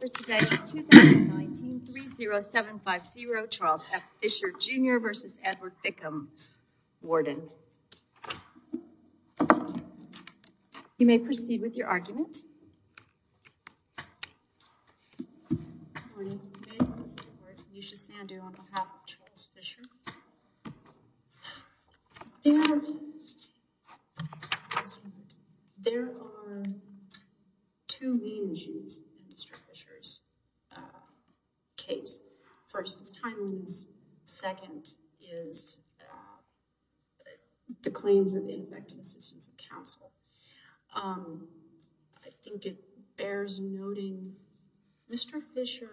for today's 2019-30750 Charles F. Fischer, Jr. v. Edward Bickham, Warden. You may proceed with your argument. Good morning, I'm Lisa Sandu on behalf of Charles Fischer. There are two main issues in Mr. Fischer's case. First is timeliness, second is the claims of the Infectious Diseases Council. I think it bears noting Mr. Fischer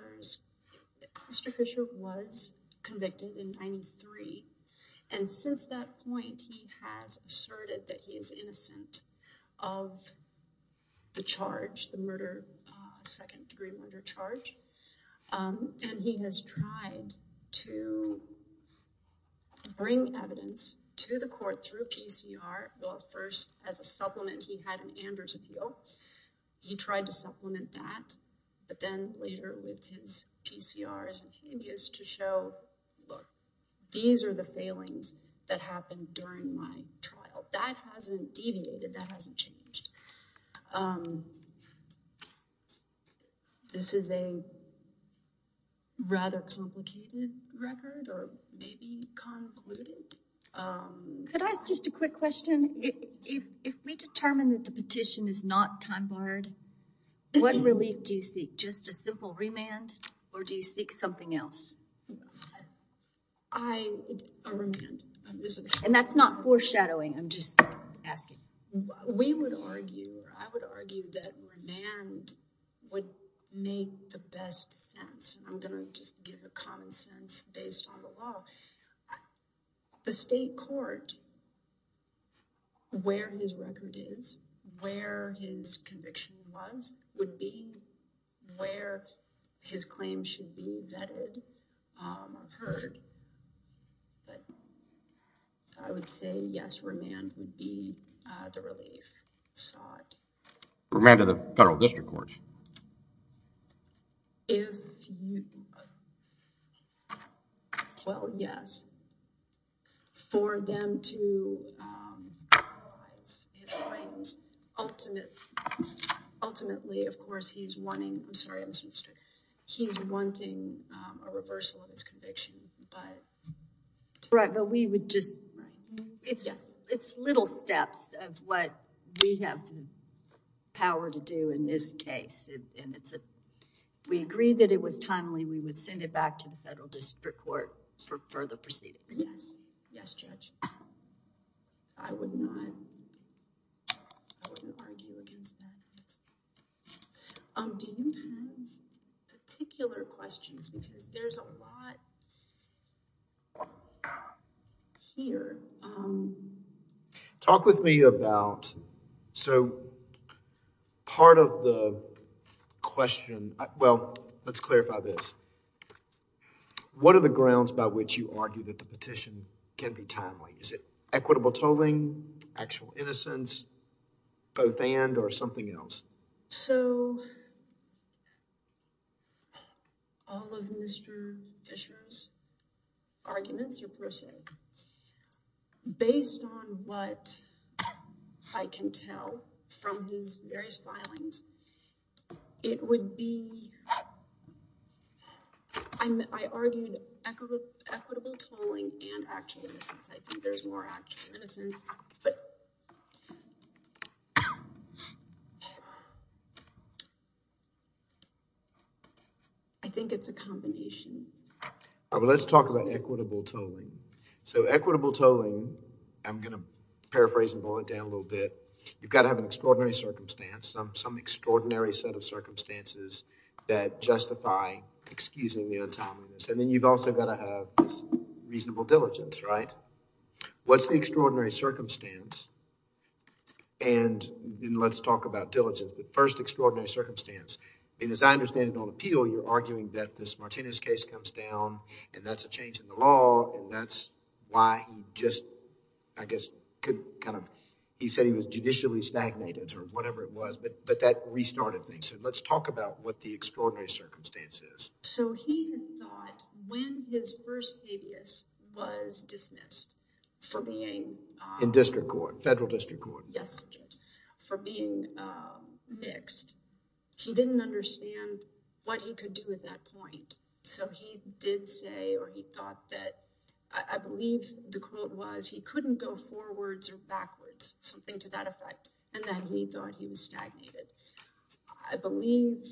was convicted in 1993, and since that point, he has asserted that he is innocent of the charge, the murder, second-degree murder charge, and he has tried to bring evidence to the court through a PCR, though at first, as a supplement, he had an Anders appeal. He tried to supplement that, but then later with his PCRs and his to show, look, these are the failings that happened during my trial. That hasn't deviated, that hasn't changed. This is a rather complicated record, or maybe convoluted. Could I ask just a quick question? If we determine that the petition is not time-barred, what relief do you seek? Just a simple remand, or do you seek something else? A remand. And that's not foreshadowing, I'm just asking. We would argue, or I would argue that remand would make the best sense. I'm going to just give a common sense based on the law. The state court, where his record is, where his conviction was, would be, where his claims should be vetted or heard. But I would say, yes, remand would be the relief sought. Remand of the federal district court? If you, well, yes. For them to analyze his claims, ultimately, of course, he's wanting, I'm sorry, I'm sorry. He's wanting a reversal of his conviction. Right, but we would just, it's little steps of what we have the power to do in this case. We agreed that it was timely, we would send it back to the federal district court for further proceedings. Yes, Judge. I would not argue against that. Do you have any particular questions? Because there's a lot here. Talk with me about, so part of the question, well, let's clarify this. What are the grounds by which you argue that the petition can be timely? Is it equitable tolling, actual innocence, both and, or something else? So, all of Mr. Fisher's arguments, or per se, based on what I can tell from his various filings, it would be, I argued equitable tolling and actual innocence. I think there's more actual innocence, but I think it's a combination. Let's talk about equitable tolling. So, equitable tolling, I'm going to paraphrase and boil it down a little bit. You've got to have an extraordinary circumstance, some extraordinary set of circumstances that justify excusing the untimeliness. And then you've also got to have reasonable diligence, right? What's the extraordinary circumstance? And then let's talk about diligence. The first extraordinary circumstance, and as I understand it on appeal, you're arguing that this Martinez case comes down and that's a change in the law and that's why he just, I guess, could kind of... He said he was judicially stagnated or whatever it was, but that restarted things. So, let's talk about what the extraordinary circumstance is. So, he thought when his first abuse was dismissed for being... In district court, federal district court. Yes, for being mixed. He didn't understand what he could do at that point. So, he did say or he thought that... I believe the quote was he couldn't go forwards or backwards, something to that effect. And then he thought he was stagnated. I believe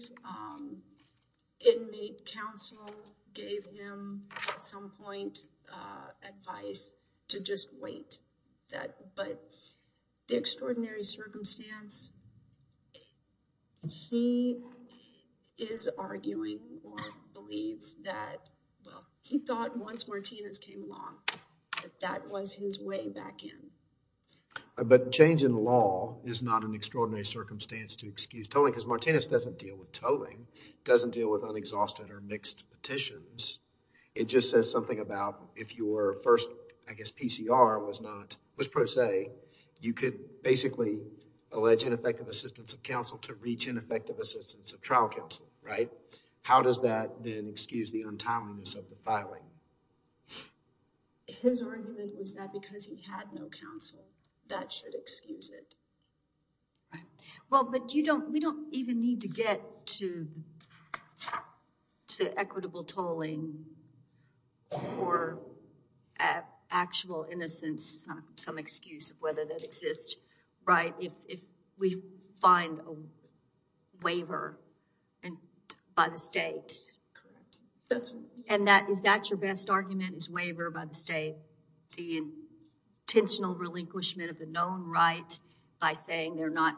inmate counsel gave him, at some point, advice to just wait. But the extraordinary circumstance, he is arguing or believes that... Well, he thought once Martinez came along that that was his way back in. But change in the law is not an extraordinary circumstance to excuse tolling because Martinez doesn't deal with tolling. He doesn't deal with unexhausted or mixed petitions. It just says something about if your first, I guess, PCR was not, was pro se, you could basically allege ineffective assistance of counsel to reach ineffective assistance of trial counsel, right? How does that then excuse the untimeliness of the filing? His argument is that because he had no counsel, that should excuse it. Well, but we don't even need to get to equitable tolling or actual innocence, some excuse of whether that exists, right, if we find a waiver by the state. And is that your best argument, this waiver by the state? The intentional relinquishment of the known right by saying they're not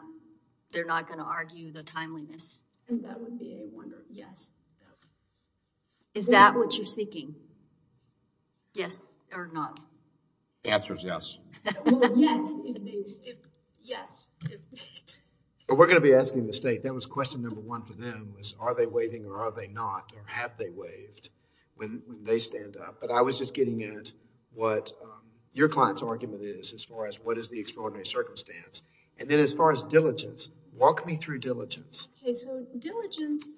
going to argue the timeliness? That would be a wonder, yes. Is that what you're seeking, yes or not? The answer is yes. Well, yes, if... yes, if... But we're going to be asking the state. That was question number one for them is are they waiving or are they not or have they waived when they stand up? But I was just getting at what your client's argument is as far as what is the extraordinary circumstance. And then as far as diligence, walk me through diligence. Okay, so diligence,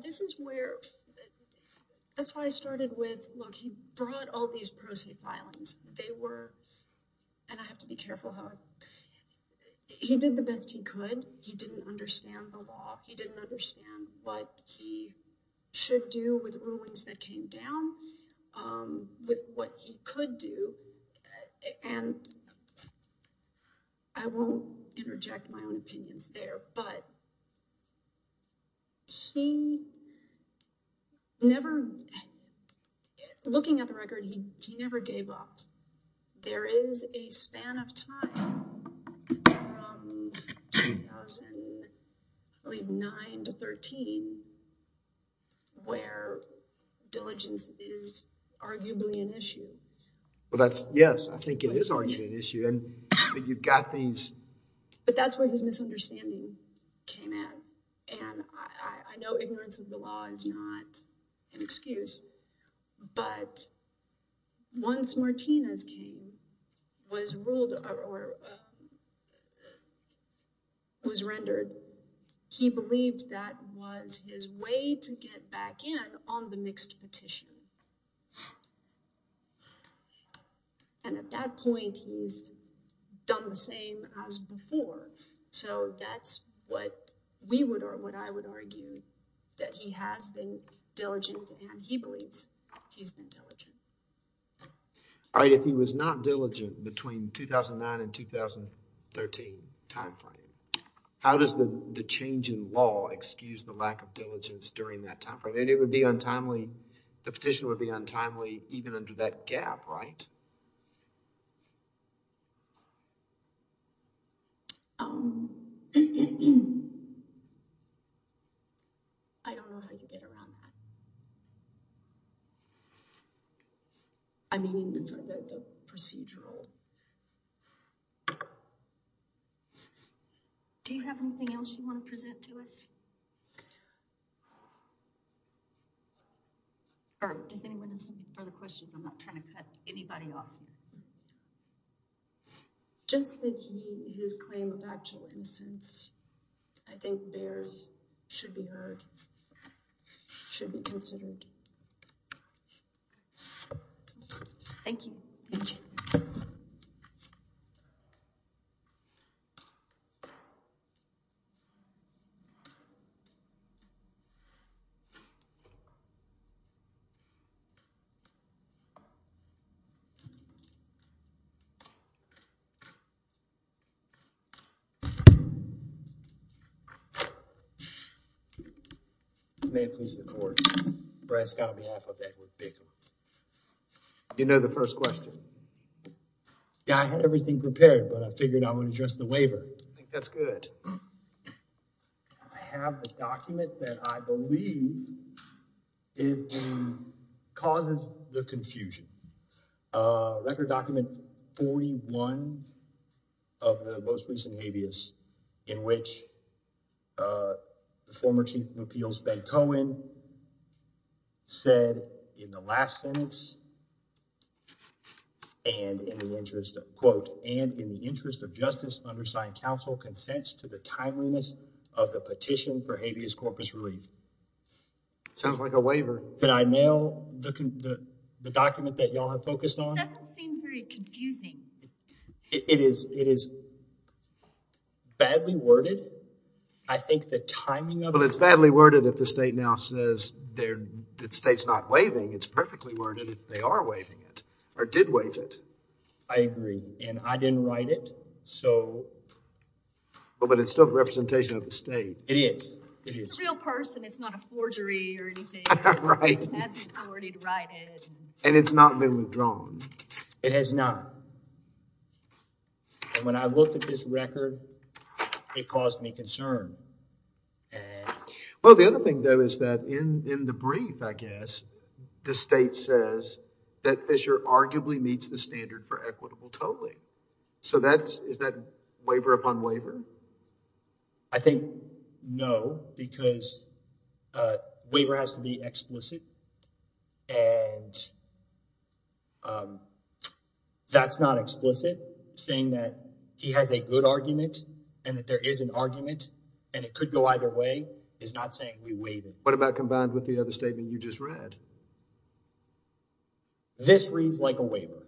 this is where – that's why I started with, look, he brought all these proceed filings. They were – and I have to be careful, Howard. He did the best he could. He didn't understand the law. He didn't understand what he should do with the ruins that came down, with what he could do. And I won't interject my own opinions there, but he never – looking at the record, he never gave up. There is a span of time from 2009 to 13 where diligence is arguably an issue. Well, that's – yes, I think it is arguably an issue. And you've got these – But that's where his misunderstanding came in. And I know ignorance of the law is not an excuse. But once Martinez was ruled – or was rendered, he believed that was his way to get back in on the mixed petition. And at that point, he's done the same as before. So that's what we would – or what I would argue that he has been diligent and he believes he's been diligent. All right. If he was not diligent between 2009 and 2013 time frame, how does the change in law excuse the lack of diligence during that time frame? It would be untimely – the petition would be untimely even under that gap, right? Okay. I don't know how you get around that. I mean even for the procedural. Do you have anything else you want to present to us? Or does anyone have further questions? I'm not trying to cut anybody off. Just that his claim of actual innocence, I think bears – should be heard. Should be considered. Thank you. Thank you. Thank you. Do you know the first question? I think that's good. Record document 41 of the most recent habeas in which the former chief of appeals, Ben Cohen, said in the last sentence and in the interest of, quote, and in the interest of justice undersigned counsel consents to the timeliness of the petition for habeas corpus relief. Sounds like a waiver. Did I mail the document that you all have focused on? It doesn't seem very confusing. It is badly worded. I think the timing of it – Well, it's badly worded if the state now says – the state's not waiving. It's perfectly worded if they are waiving it or did waive it. I agree. And I didn't write it, so – But it's still a representation of the state. It is. It's a real person. It's not a forgery or anything. I didn't write it. And it's not been withdrawn. It has not. And when I looked at this record, it caused me concern. Well, the other thing, though, is that in the brief, I guess, the state says that Fisher arguably meets the standard for equitable tolling. So that's – is that waiver upon waiver? I think no, because waiver has to be explicit. And that's not explicit. Saying that he has a good argument and that there is an argument and it could go either way is not saying we waive it. What about combined with the other statement you just read? This reads like a waiver.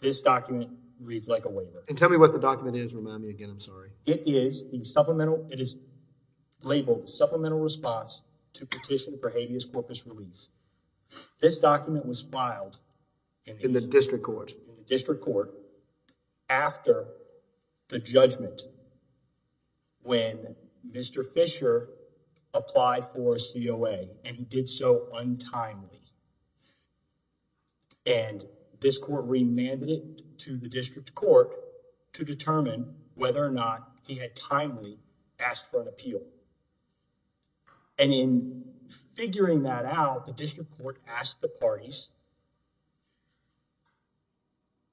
This document reads like a waiver. And tell me what the document is. Remind me again. I'm sorry. It is the supplemental – it is labeled supplemental response to petition for habeas corpus release. This document was filed – In the district court. In the district court after the judgment when Mr. Fisher applied for a COA. And he did so untimely. And this court remanded it to the district court to determine whether or not he had timely asked for an appeal. And in figuring that out, the district court asked the parties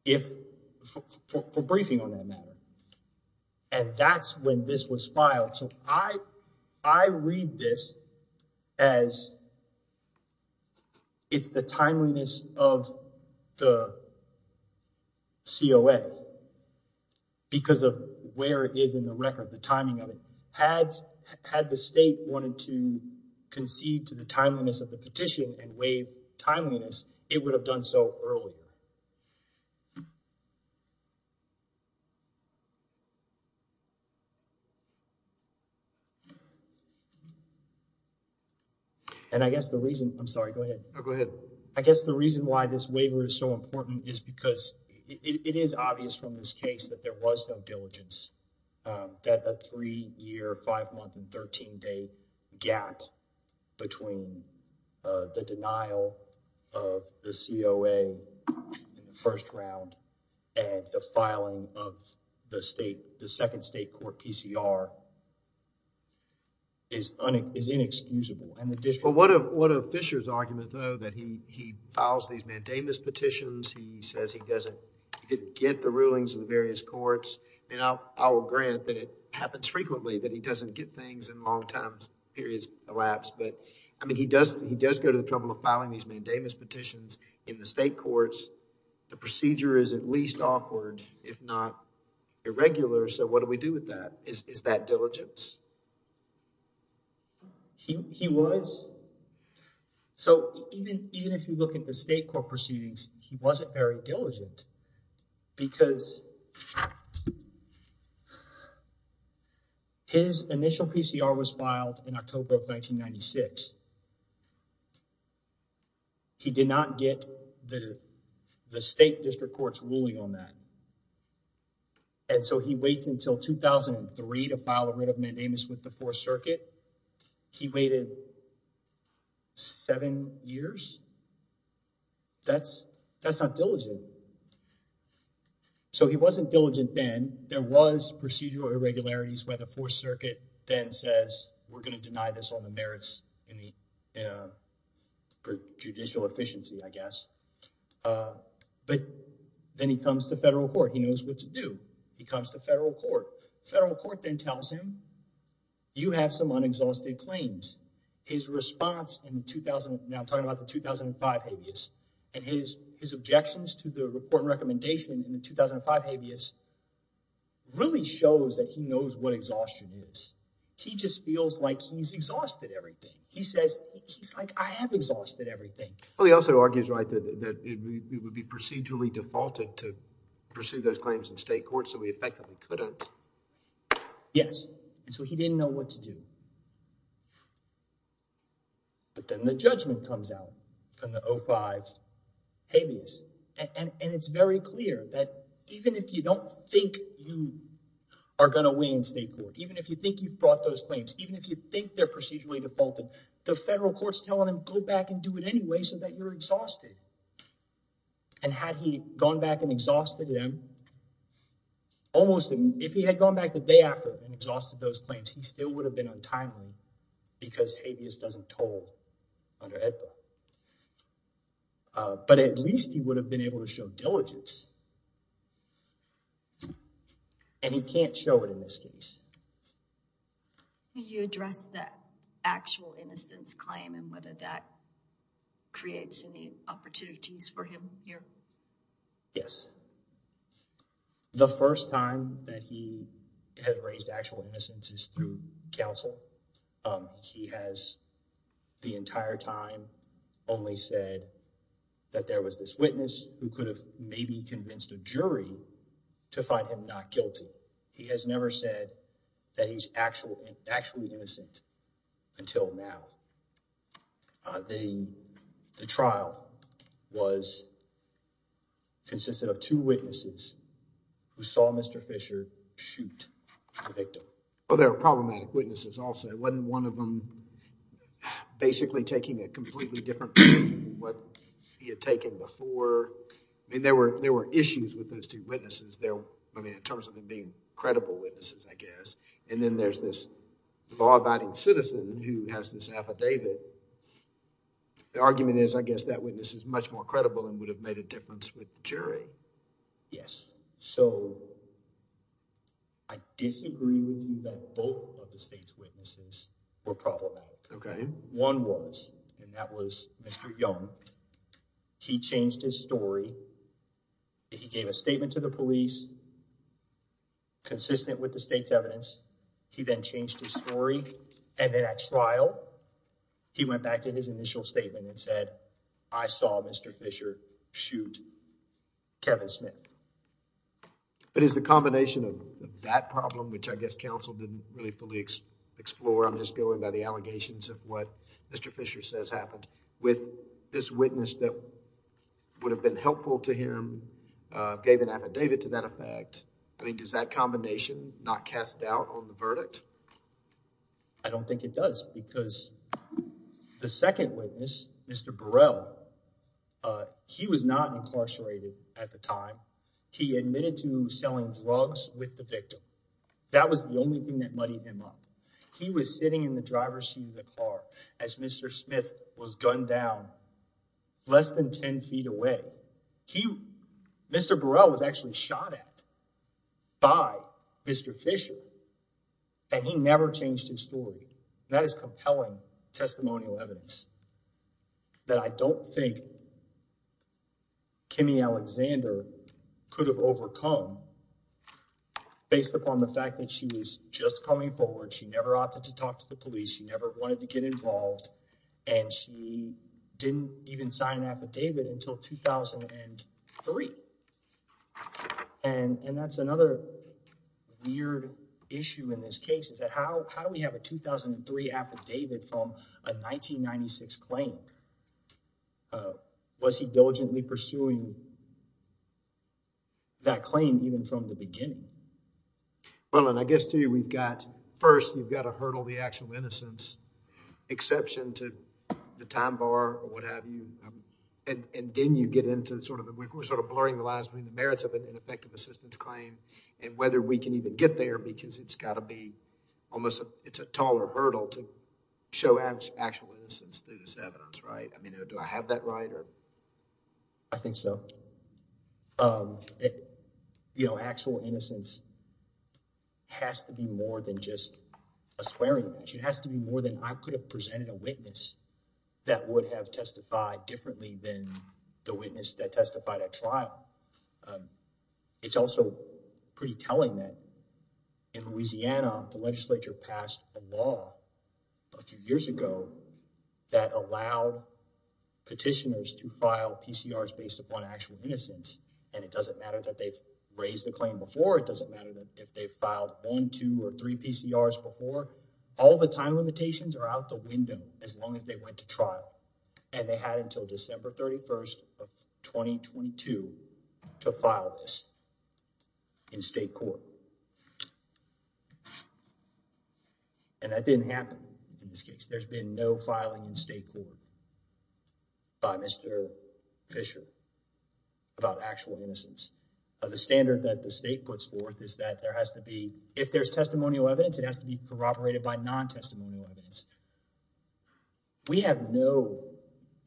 if – for briefing on that matter. And that's when this was filed. So I read this as it's the timeliness of the COA. Because of where it is in the record, the timing of it. Had the state wanted to concede to the timeliness of the petition and waive timeliness, it would have done so earlier. And I guess the reason – I'm sorry, go ahead. Oh, go ahead. I guess the reason why this waiver is so important is because it is obvious from this case that there was no diligence. That a three-year, five-month, and 13-day gap between the denial of the COA in the first round and the filing of the state – the second state court PCR is inexcusable. And the district court – Well, what of Fisher's argument, though, that he files these mandamus petitions. He says he doesn't – he didn't get the rulings in various courts. And I'll grant that it happens frequently that he doesn't get things in long-term periods of lapse. But, I mean, he does go to the trouble of filing these mandamus petitions in the state courts. The procedure is at least awkward, if not irregular. So what do we do with that? Is that diligence? He was. So even if you look at the state court proceedings, he wasn't very diligent because his initial PCR was filed in October of 1996. He did not get the state district court's ruling on that. And so he waits until 2003 to file a writ of mandamus with the Fourth Circuit. He waited seven years? That's not diligent. So he wasn't diligent then. There was procedural irregularities where the Fourth Circuit then says, for judicial efficiency, I guess. But then he comes to federal court. He knows what to do. He comes to federal court. Federal court then tells him, you have some unexhausted claims. His response in the – now I'm talking about the 2005 habeas. And his objections to the report and recommendation in the 2005 habeas really shows that he knows what exhaustion is. He just feels like he's exhausted everything. He says, he's like, I have exhausted everything. Well, he also argues, right, that it would be procedurally defaulted to pursue those claims in state court so he effectively couldn't. Yes. And so he didn't know what to do. But then the judgment comes out in the 2005 habeas. And it's very clear that even if you don't think you are going to win state court, even if you think you've brought those claims, even if you think they're procedurally defaulted, the federal court's telling him, go back and do it anyway so that you're exhausted. And had he gone back and exhausted them, almost – if he had gone back the day after and exhausted those claims, he still would have been untimely because habeas doesn't toll under EDPA. But at least he would have been able to show diligence. And he can't show it in this case. Can you address the actual innocence claim and whether that creates any opportunities for him here? Yes. The first time that he had raised actual innocence is through counsel. He has the entire time only said that there was this witness who could have maybe convinced a jury to find him not guilty. He has never said that he's actually innocent until now. The trial was consisted of two witnesses who saw Mr. Fisher shoot the victim. Well, there were problematic witnesses also. It wasn't one of them basically taking a completely different view than what he had taken before. I mean, there were issues with those two witnesses. I mean, in terms of them being credible witnesses, I guess. And then there's this law-abiding citizen who has this affidavit. The argument is, I guess, that witness is much more credible and would have made a difference with the jury. Yes. So I disagree with you that both of the state's witnesses were problematic. One was, and that was Mr. Young. He changed his story. He gave a statement to the police consistent with the state's evidence. He then changed his story. And then at trial, he went back to his initial statement and said, I saw Mr. Fisher shoot Kevin Smith. But is the combination of that problem, which I guess counsel didn't really fully explore on this going by the allegations of what Mr. Fisher says happened, with this witness that would have been helpful to him, gave an affidavit to that effect? I mean, does that combination not cast doubt on the verdict? I don't think it does because the second witness, Mr. Burrell, he was not incarcerated at the time. He admitted to selling drugs with the victim. That was the only thing that muddied him up. He was sitting in the driver's seat of the car as Mr. Smith was gunned down less than 10 feet away. Mr. Burrell was actually shot at by Mr. Fisher, and he never changed his story. That is compelling testimonial evidence that I don't think Kimmy Alexander could have overcome based upon the fact that she was just coming forward. She never opted to talk to the police. She never wanted to get involved. And she didn't even sign an affidavit until 2003. And that's another weird issue in this case, is that how do we have a 2003 affidavit from a 1996 claim? Was he diligently pursuing that claim even from the beginning? Well, and I guess to you we've got, first, you've got to hurdle the actual innocence exception to the time bar or what have you. And then you get into sort of the, we're sort of blurring the lines between the merits of an effective assistance claim and whether we can even get there because it's got to be almost, it's a taller hurdle to show actual innocence through this evidence, right? I mean, do I have that right? I think so. You know, actual innocence has to be more than just a swearing. It has to be more than I could have presented a witness that would have testified differently than the witness that testified at trial. It's also pretty telling that in Louisiana, the legislature passed a law a few years ago that allowed petitioners to file a petition. And it doesn't matter that they've raised the claim before. It doesn't matter that if they've filed one, two or three PCRs before all the time limitations are out the window, as long as they went to trial. And they had until December 31st of 2022 to file this in state court. And that didn't happen in this case. There's been no filing in state court by Mr. Fisher about actual innocence. The standard that the state puts forth is that there has to be, if there's testimonial evidence, it has to be corroborated by non-testimonial evidence. We have no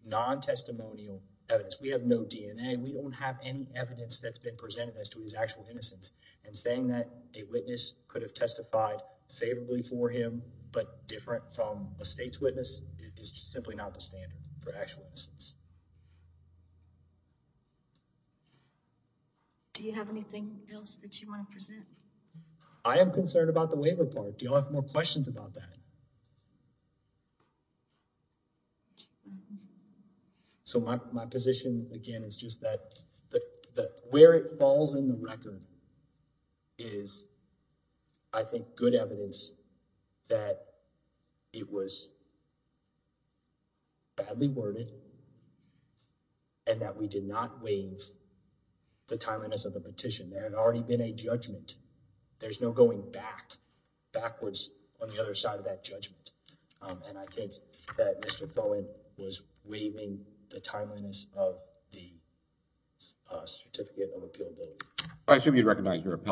non-testimonial evidence. We have no DNA. We don't have any evidence that's been presented as to his actual innocence and saying that a witness could have testified favorably for him, but different from a state's witness is simply not the standard for actual innocence. Do you have anything else that you want to present? I am concerned about the waiver part. Do y'all have more questions about that? So my, my position again, is just that, that, that where it falls in the record is I think, we have good evidence that it was badly worded and that we did not waive the timeliness of the petition. There had already been a judgment. There's no going back backwards on the other side of that judgment. And I think that Mr. Bowen was waiving the timeliness of the hearing. And I agree with him on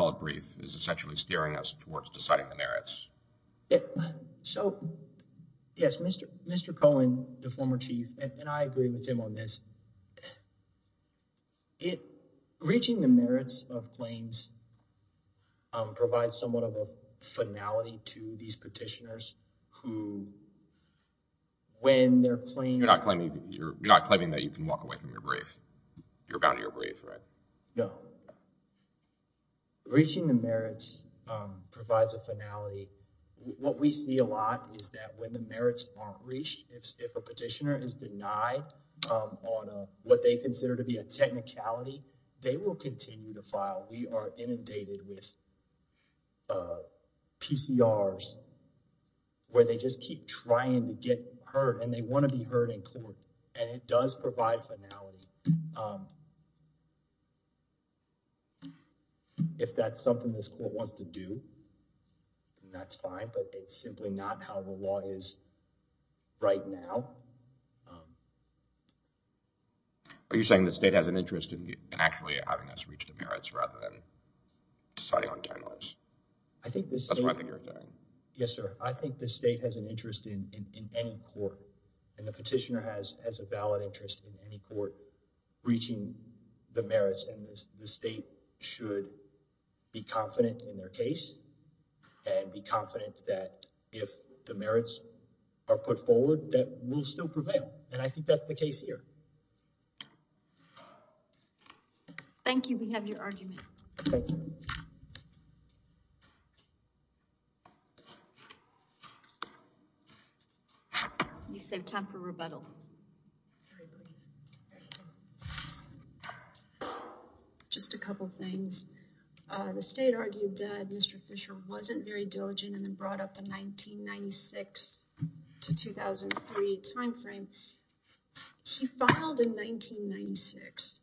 this. So yes, Mr. Mr. Cohen, the former chief and I agree with him on this, it reaching the merits of claims provides somewhat of a finality to these petitioners who, when they're playing. You're not claiming. You're not claiming that you can walk away from your grief. You're bound to your brief, right? No. Reaching the merits provides a finality. What we see a lot is that when the merits aren't reached, if a petitioner is denied on what they consider to be a technicality, they will continue to file. We are inundated with PCRs where they just keep trying to get hurt and they want to be heard in court. And it does provide finality. If that's something this court wants to do, that's fine. But it's simply not how the law is right now. Are you saying the state has an interest in actually having us reach the merits rather than deciding on technicalities? That's what I think you're saying. Yes, sir. I think the state has an interest in any court. And the petitioner has a valid interest in any court reaching the merits. And the state should be confident in their case and be confident that if the merits are put forward, that we'll still prevail. And I think that's the case here. Thank you. We have your argument. Thank you. Thank you. You saved time for rebuttal. Just a couple things. The state argued that Mr. Fisher wasn't very diligent and then brought up the 1996 to 2003 timeframe. He filed in 1996.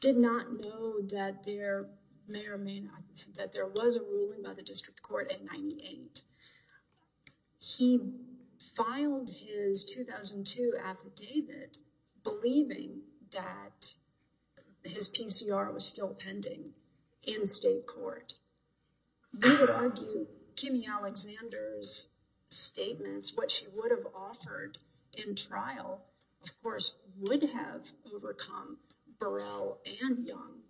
Did not know that there may or may not have been, that there was a ruling by the district court in 98. He filed his 2002 affidavit believing that his PCR was still pending in state court. We would argue Kimmy Alexander's statements, what she would have offered in trial, of course, would have overcome Burrell and Young,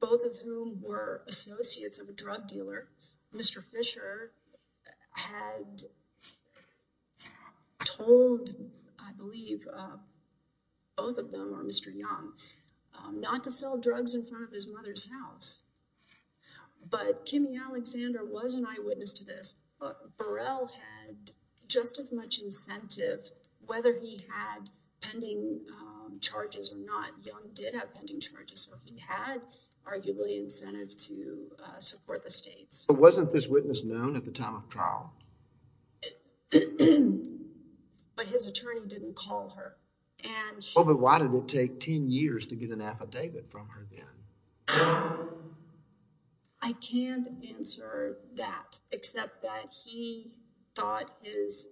both of whom were associates of a drug dealer. Mr. Fisher had told, I believe, both of them, or Mr. Young, not to sell drugs in front of his mother's house. But Kimmy Alexander was an eyewitness to this. Burrell had just as much incentive, whether he had pending charges or not. Young did have pending charges, so he had arguably incentive to support the states. But wasn't this witness known at the time of trial? But his attorney didn't call her. But why did it take 10 years to get an affidavit from her then? I can't answer that, except that he thought his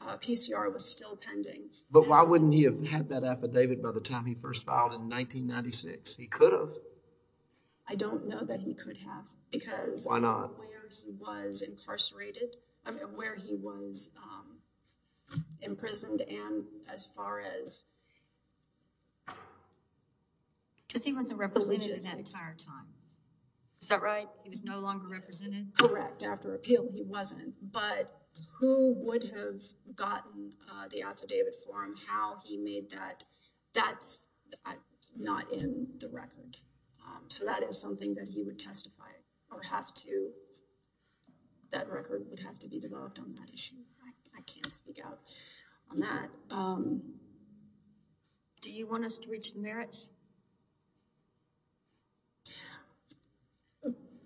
PCR was still pending. But why wouldn't he have had that affidavit by the time he first filed in 1996? He could have. I don't know that he could have. Why not? Because of where he was incarcerated, I mean where he was imprisoned and as far as Because he wasn't represented in that entire time. Is that right? He was no longer represented? Correct. After appeal, he wasn't. But who would have gotten the affidavit for him? How he made that, that's not in the record. So that is something that he would testify or have to, that record would have to be developed on that issue. I can't speak out on that. Do you want us to reach the merits?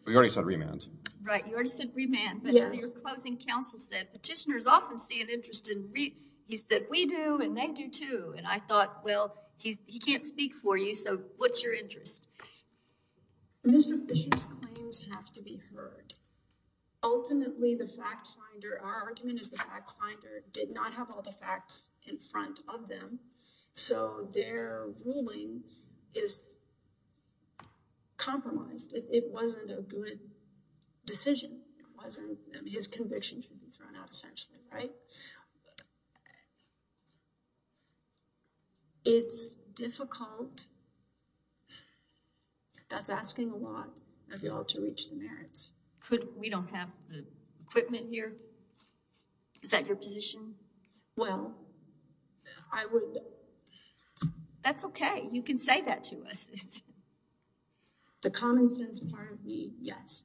We already said remand. Right, you already said remand. But in your closing counsel said, petitioners often see an interest in remand. He said, we do, and they do too. And I thought, well, he can't speak for you, so what's your interest? Mr. Fisher's claims have to be heard. Ultimately, the fact finder, our argument is the fact finder, did not have all the facts in front of them. So their ruling is compromised. It wasn't a good decision. It wasn't. His convictions would be thrown out essentially, right? It's difficult. That's asking a lot of y'all to reach the merits. We don't have the equipment here? Is that your position? Well, I would. That's okay. You can say that to us. The common sense part of me, yes.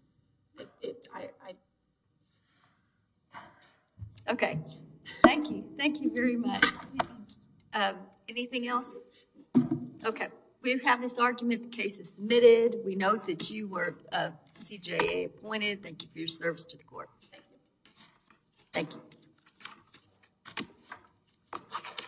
Okay. Thank you. Thank you very much. Anything else? Okay. We have this argument. The case is submitted. We note that you were CJA appointed. Thank you for your service to the court. Thank you. Thank you.